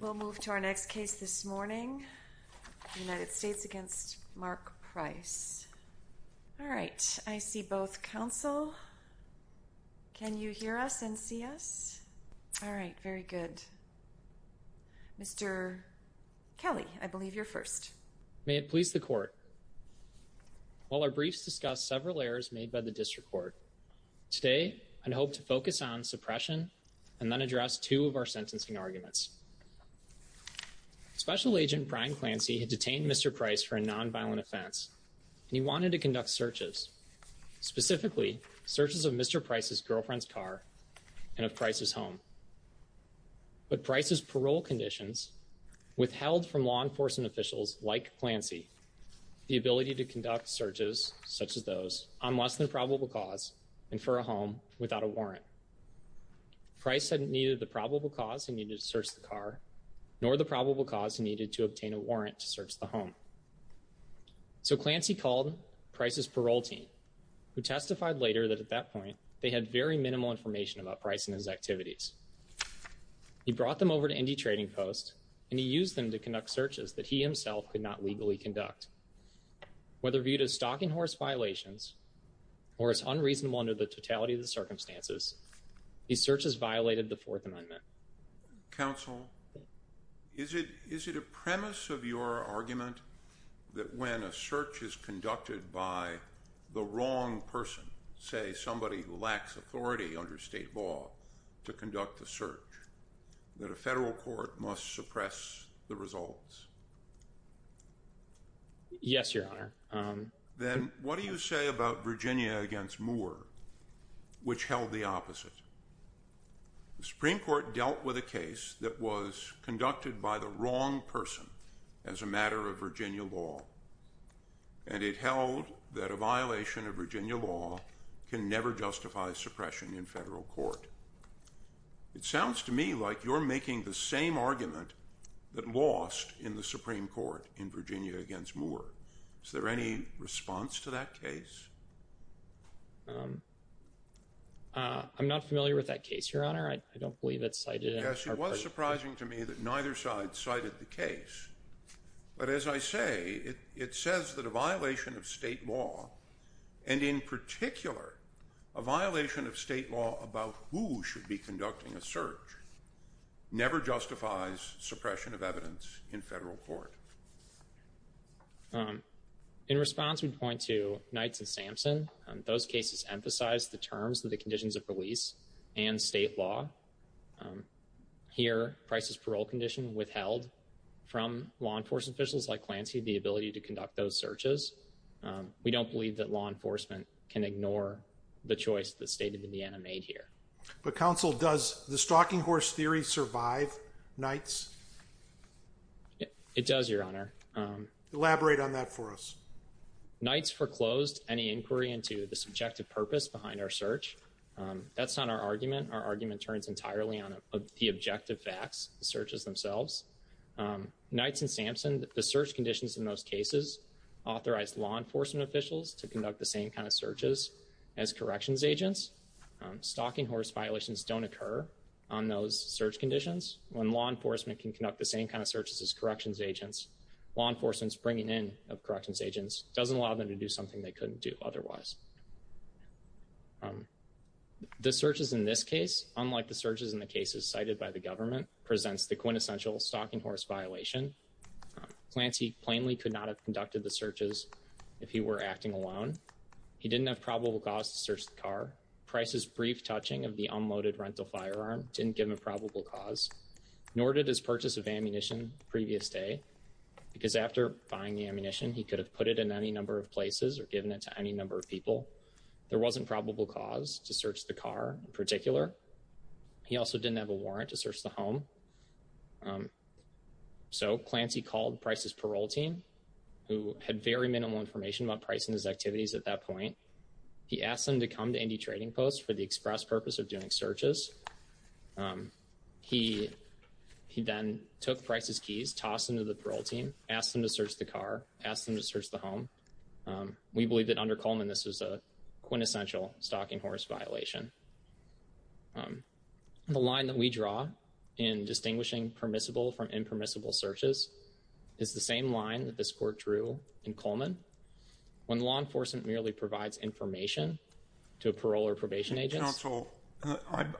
We'll move to our next case this morning. United States v. Mark Price. All right. I see both counsel. Can you hear us and see us? All right. Very good. Mr. Kelly, I believe you're first. May it please the court. While our briefs discuss several errors made by the district court, today I'd hope to focus on suppression and then address two of our sentencing arguments. Special Agent Brian Clancy had detained Mr. Price for a nonviolent offense and he wanted to conduct searches, specifically searches of Mr. Price's girlfriend's car and of Price's home. But Price's parole conditions withheld from law enforcement officials like Clancy the ability to conduct searches such as those on less than probable cause and for a home without a warrant. Price had neither the probable cause he needed to search the car nor the probable cause he needed to obtain a warrant to search the home. So Clancy called Price's parole team who testified later that at that point they had very minimal information about Price and his activities. He brought them over to Indy Trading Post and he used them to conduct searches that he himself could not legally conduct. Whether viewed as stocking horse violations or as unreasonable under the totality of the circumstances, these searches violated the Fourth Amendment. Counsel, is it is it a premise of your argument that when a search is conducted by the wrong person, say somebody who lacks authority under state law to conduct the search, that a federal court must suppress the results? Yes, Your Honor. Then what do you say about Virginia against Moore which held the opposite? The Supreme Court dealt with a case that was conducted by the wrong person as a matter of Virginia law and it held that a violation of Virginia law can never justify suppression in federal court. It sounds to me like you're making the same argument that lost in the Supreme Court in Virginia against Moore. Is there any response to that case? I'm not familiar with that case, Your Honor. I don't believe it's cited. Yes, it was surprising to me that neither side cited the case. But as I say, it says that a violation of state law and in particular a violation of state law about who should be conducting a search never justifies suppression of evidence in federal court. In response, we point to Knights and Sampson. Those cases emphasize the terms of the conditions of release and state law. Here, Price's parole condition withheld from law enforcement officials like Clancy the ability to conduct those searches. We don't believe that law enforcement officials are the ones who are conducting the searches. We believe that the search is being conducted by the same law enforcement officials that stated Indiana made here. But counsel, does the stalking horse theory survive Knights? It does, Your Honor. Elaborate on that for us. Knights foreclosed any inquiry into the subjective purpose behind our search. That's not our argument. Our argument turns entirely on the objective facts, the searches themselves. Knights and Sampson, the search conditions in those cases authorized law enforcement officials to conduct the same kind of searches as corrections agents. Stalking horse violations don't occur on those search conditions. When law enforcement can conduct the same kind of searches as corrections agents, law enforcement's bringing in of corrections agents doesn't allow them to do something they couldn't do otherwise. The searches in this case, unlike the searches in the cases cited by the government, presents the quintessential stalking horse violation. Clancy plainly could not have conducted the searches if he were acting alone. He didn't have probable cause to search the car. Price's brief touching of the unloaded rental firearm didn't give him a probable cause, nor did his purchase of ammunition the previous day, because after buying the ammunition he could have put it in any number of places or given it to any number of people. There wasn't probable cause to search the car in particular. He also didn't have a warrant to search the home. So Clancy called Price's parole team, who had very minimal information about Price and his activities at that point. He asked them to come to Indy Trading Post for the express purpose of doing searches. He then took Price's keys, tossed them to the parole team, asked them to search the car, asked them to search the home. We believe that under Coleman this was a quintessential stalking horse violation. The line that we draw in distinguishing permissible from impermissible searches is the same line that this court drew in Coleman, when law enforcement merely provides information to a parole or probation agent. Counsel,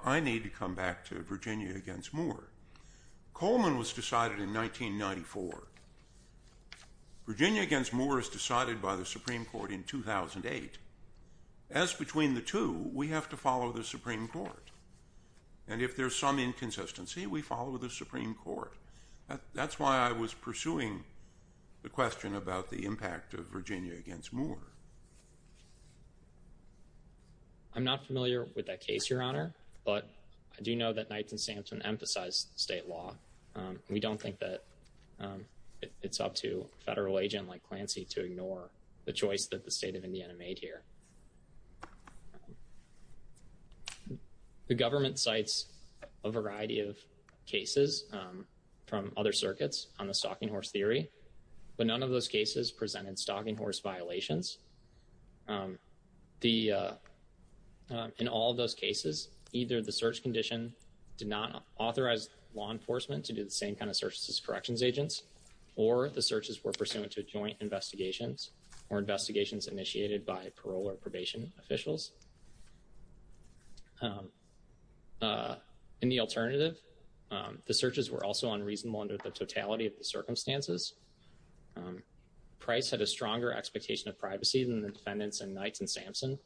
I need to come back to Virginia against Moore. Coleman was decided in 1994. Virginia against Moore is decided by the Supreme Court in 2008. As between the two, we have to follow the Supreme Court. And if there's some inconsistency, we follow the Supreme Court. That's why I was pursuing the question about the impact of Virginia against Moore. I'm not familiar with that case, Your Honor, but I do know that Knights and Sampson emphasized state law. We don't think that it's up to a federal The government cites a variety of cases from other circuits on the stalking horse theory, but none of those cases presented stalking horse violations. In all those cases, either the search condition did not authorize law enforcement to do the same kind of searches as corrections agents, or the searches were pursuant to joint investigations or investigations initiated by parole or probation officials. In the alternative, the searches were also unreasonable under the totality of the circumstances. Price had a stronger expectation of privacy than the defendants in Knights and Sampson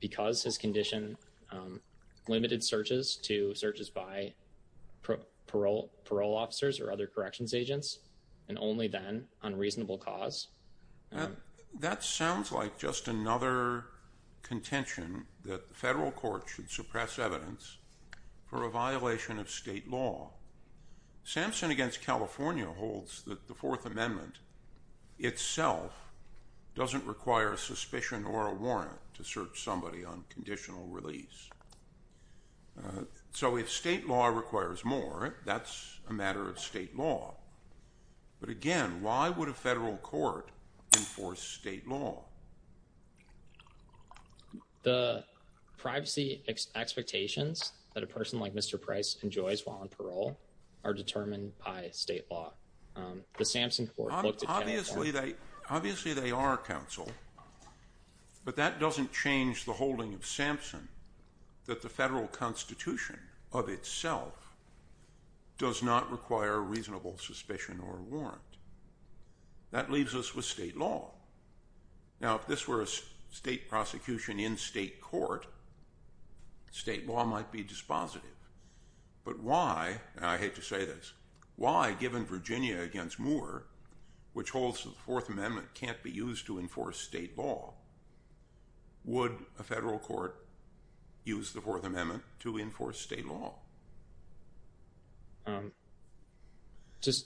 because his condition limited searches to searches by parole officers or other corrections agents, and only then on reasonable cause. That sounds like just another contention that the federal court should suppress evidence for a violation of state law. Sampson against California holds that the Fourth Amendment itself doesn't require a suspicion or a warrant to search somebody on conditional release. So if state law requires more, that's a court enforced state law. The privacy expectations that a person like Mr. Price enjoys while on parole are determined by state law. The Sampson Court looked at that. Obviously they are counsel, but that doesn't change the holding of Sampson that the federal constitution of itself does not require a reasonable suspicion or warrant. That leaves us with state law. Now if this were a state prosecution in state court, state law might be dispositive. But why, and I hate to say this, why given Virginia against Moore, which holds the Fourth Amendment can't be used to enforce state law, would a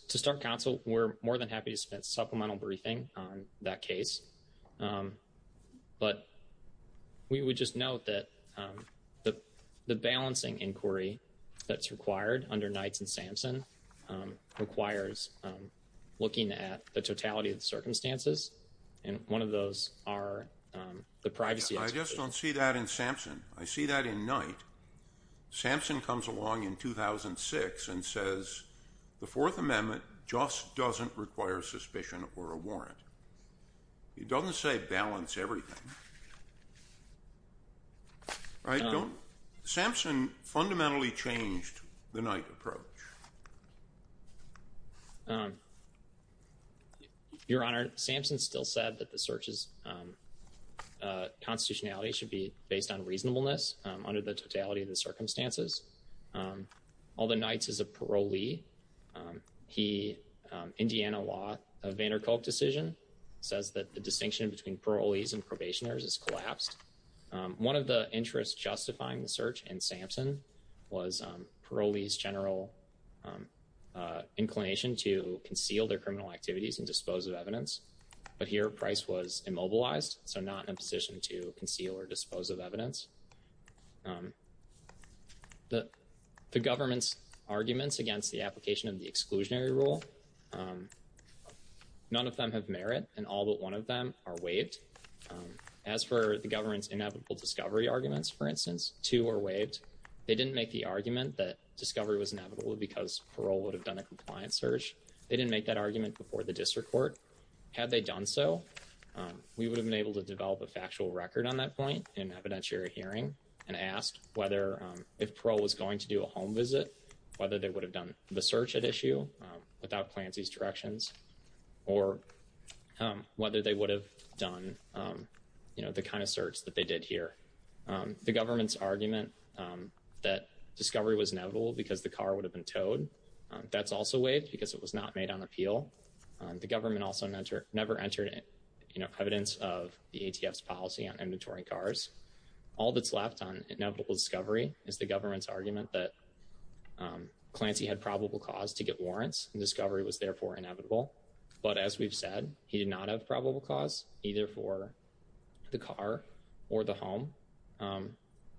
To start counsel, we're more than happy to spend supplemental briefing on that case, but we would just note that the balancing inquiry that's required under Knight and Sampson requires looking at the totality of the circumstances, and one of those are the privacy. I just don't see that in Sampson. I see that in Knight. Sampson comes along in 2006 and says the Fourth Amendment just doesn't require suspicion or a warrant. It doesn't say balance everything. Sampson fundamentally changed the Knight approach. Your Honor, Sampson still said that the search's constitutionality should be based on the totality of the circumstances. Although Knight's is a parolee, he, Indiana law, a Vander Kolk decision, says that the distinction between parolees and probationers is collapsed. One of the interests justifying the search in Sampson was parolees general inclination to conceal their criminal activities and dispose of evidence, but here Price was immobilized, so not in a position to The government's arguments against the application of the exclusionary rule, none of them have merit, and all but one of them are waived. As for the government's inevitable discovery arguments, for instance, two are waived. They didn't make the argument that discovery was inevitable because parole would have done a compliance search. They didn't make that argument before the district court. Had they done so, we would have been able to develop a factual record on that point in evidentiary hearing and asked whether if parole was going to do a home visit, whether they would have done the search at issue without Clancy's directions, or whether they would have done, you know, the kind of search that they did here. The government's argument that discovery was inevitable because the car would have been towed, that's also waived because it was not made on appeal. The government also never entered, you know, evidence of the ATF's policy on inventory cars. All that's left on inevitable discovery is the government's argument that Clancy had probable cause to get warrants, and discovery was therefore inevitable. But as we've said, he did not have probable cause either for the car or the home,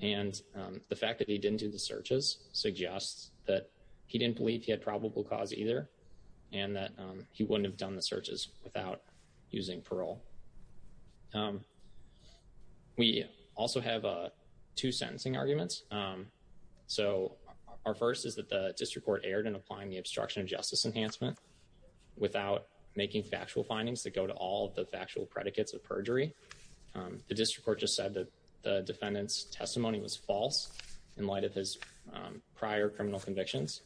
and the fact that he didn't do the searches suggests that he didn't believe he had probable cause either, and that he wouldn't have done the searches without using parole. We also have two sentencing arguments. So our first is that the district court erred in applying the obstruction of justice enhancement without making factual findings that go to all the factual predicates of perjury. The district court just said that the defendant's testimony was false in light of his prior criminal convictions.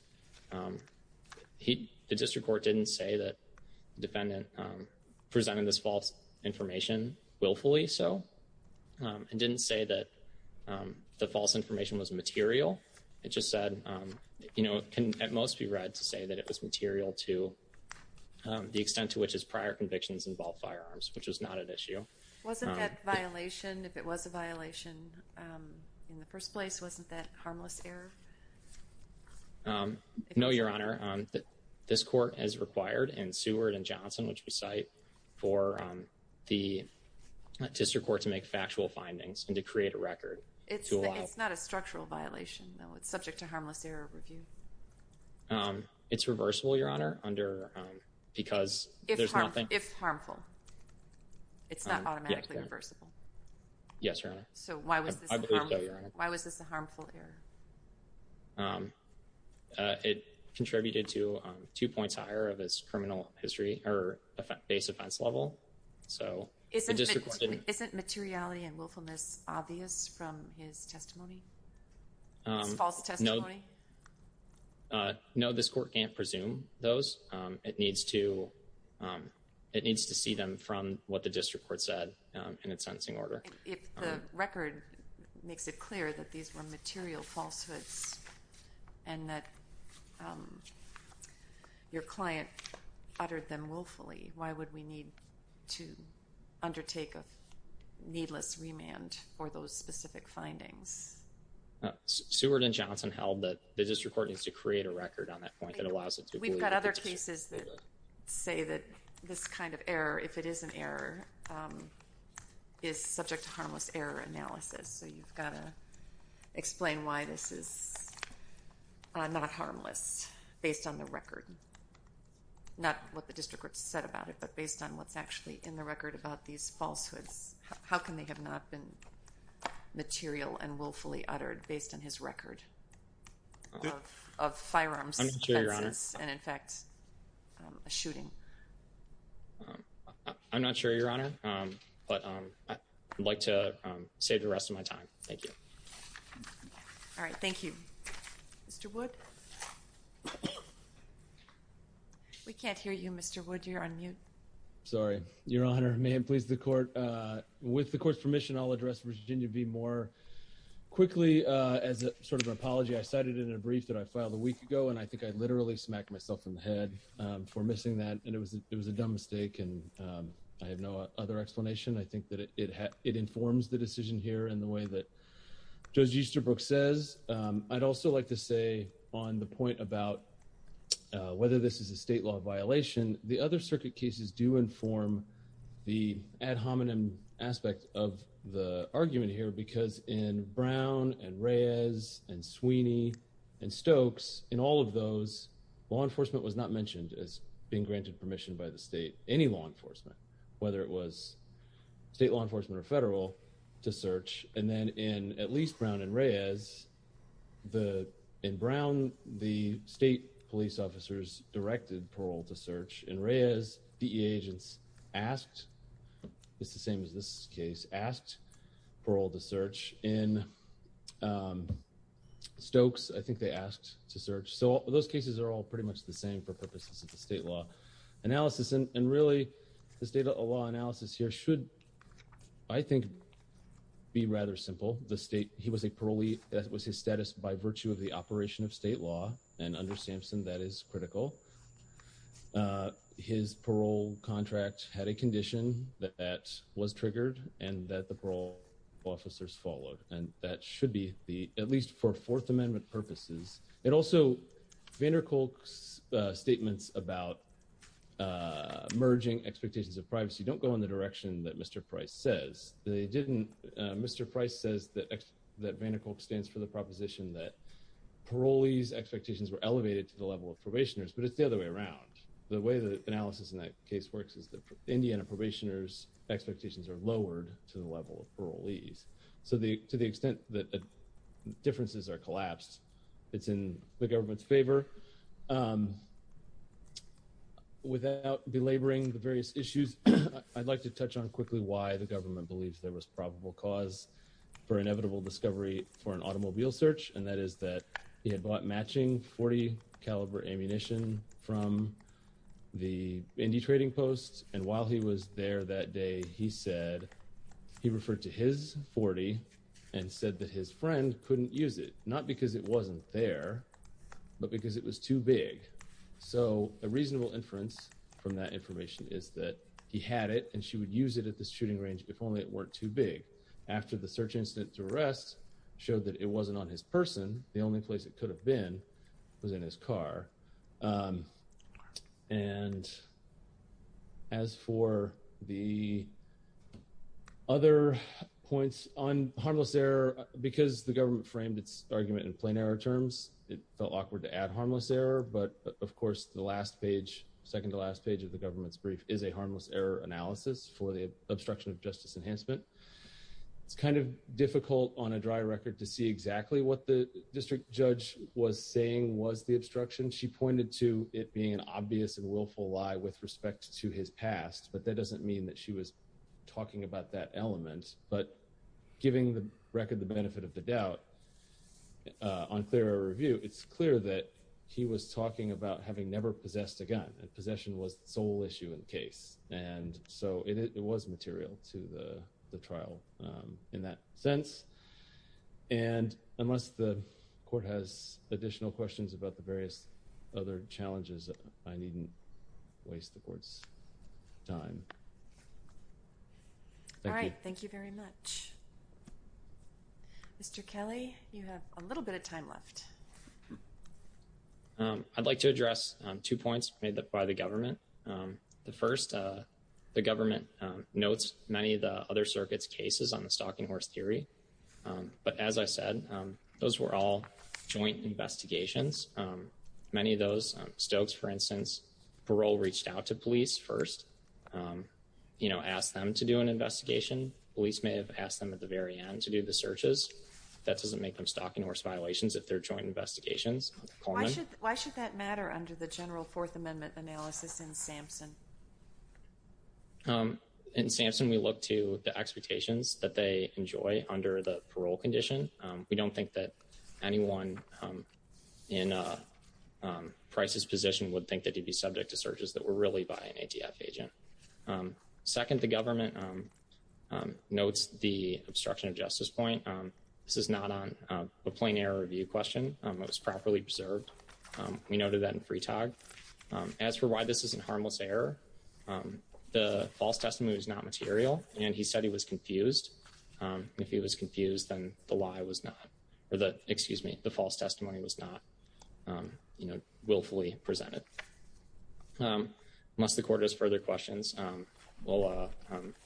The district court didn't say that the defendant presented this false information willfully so, and didn't say that the false information was material. It just said, you know, it can at most be read to say that it was material to the extent to which his prior convictions involved firearms, which is not an issue. Wasn't that violation, if it was a harmless error? No, Your Honor. This court has required in Seward and Johnson, which we cite, for the district court to make factual findings and to create a record. It's not a structural violation, though. It's subject to harmless error review. It's reversible, Your Honor, because there's nothing... If harmful. It's not It contributed to two points higher of his criminal history or base offense level. So, the district court didn't... Isn't materiality and willfulness obvious from his testimony? His false testimony? No, this court can't presume those. It needs to, it needs to see them from what the district court said in its sentencing order. If the falsehoods and that your client uttered them willfully, why would we need to undertake a needless remand for those specific findings? Seward and Johnson held that the district court needs to create a record on that point that allows it to believe that it's a structural violation. We've got other cases that say that this kind of error, if it is an error, is subject to not harmless based on the record. Not what the district court said about it, but based on what's actually in the record about these falsehoods. How can they have not been material and willfully uttered based on his record of firearms and, in fact, a shooting? I'm not sure, Your Honor, but I would like to save the rest of my time. Thank you. All right, thank you. Mr. Wood? We can't hear you, Mr. Wood. You're on mute. Sorry, Your Honor. May it please the court, with the court's permission, I'll address Virginia v. Moore. Quickly, as a sort of an apology, I cited in a brief that I filed a week ago and I think I literally smacked myself in the head for missing that and it was it was a dumb mistake and I have no other explanation. I think that it informs the decision here in the way that Judge Easterbrook says. I'd also like to say on the point about whether this is a state law violation, the other circuit cases do inform the ad hominem aspect of the argument here because in Brown and Reyes and Sweeney and Stokes, in all of those, law enforcement was not mentioned as being granted permission by the state, any law enforcement, whether it was state law enforcement or federal, to search and then in at least Brown and Reyes, in Brown, the state police officers directed parole to search. In Reyes, DEA agents asked, it's the same as this case, asked parole to search. In Stokes, I think they asked to search. So those cases are all pretty much the same for purposes of the state law analysis and really the state of law analysis here should, I think, be rather simple. The state, he was a parolee, that was his status by virtue of the operation of state law and under Sampson that is critical. His parole contract had a condition that that was triggered and that the parole officers followed and that should be the, at least for Fourth Amendment purposes. It also, Vander Kolk's merging expectations of privacy don't go in the direction that Mr. Price says. They didn't, Mr. Price says that Vander Kolk stands for the proposition that parolees' expectations were elevated to the level of probationers, but it's the other way around. The way the analysis in that case works is that Indiana probationers' expectations are lowered to the level of parolees. So the, to the extent that differences are collapsed, it's in the government's favor. Without belaboring the various issues, I'd like to touch on quickly why the government believes there was probable cause for inevitable discovery for an automobile search and that is that he had bought matching .40 caliber ammunition from the Indy Trading Post and while he was there that day, he said he referred to his .40 and said that his friend couldn't use it, not because it was too big. So a reasonable inference from that information is that he had it and she would use it at this shooting range if only it weren't too big. After the search incident's arrest showed that it wasn't on his person, the only place it could have been was in his car. And as for the other points on harmless error, because the government framed its argument in plain error terms, it felt awkward to add harmless error, but of course, the last page, second to last page of the government's brief is a harmless error analysis for the obstruction of justice enhancement. It's kind of difficult on a dry record to see exactly what the district judge was saying was the obstruction. She pointed to it being an obvious and willful lie with respect to his past, but that doesn't mean that she was talking about that element. But giving the record the that he was talking about having never possessed a gun and possession was the sole issue in the case. And so it was material to the trial in that sense. And unless the court has additional questions about the various other challenges, I needn't waste the court's time. All right, thank you very much. Mr. Kelly, you have a little bit of time left. I'd like to address two points made that by the government. The first, the government notes many of the other circuit's cases on the stalking horse theory, but as I said, those were all joint investigations. Many of those, Stokes for instance, parole reached out to police first, you know, asked them to do an investigation. Police may have asked them at the very end to do the searches. That doesn't make them stalking horse violations if they're joint investigations. Why should that matter under the general Fourth Amendment analysis in Sampson? In Sampson, we look to the expectations that they enjoy under the parole condition. We don't think that anyone in a crisis position would think that he'd be subject to searches that were really by an ATF agent. Second, the government notes the obstruction of justice point. This is not on a plain error review question. It was properly preserved. We noted that in Freetag. As for why this isn't harmless error, the false testimony is not material and he said he was confused. If he was confused, then the lie was not, or the, excuse me, the false testimony was not, you know, willfully presented. Unless the court has further questions, we'll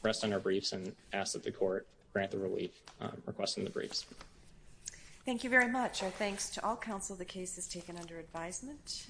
rest on our briefs and ask that the court grant the relief requesting the briefs. Thank you very much. Our thanks to all counsel. The case is taken under advisement.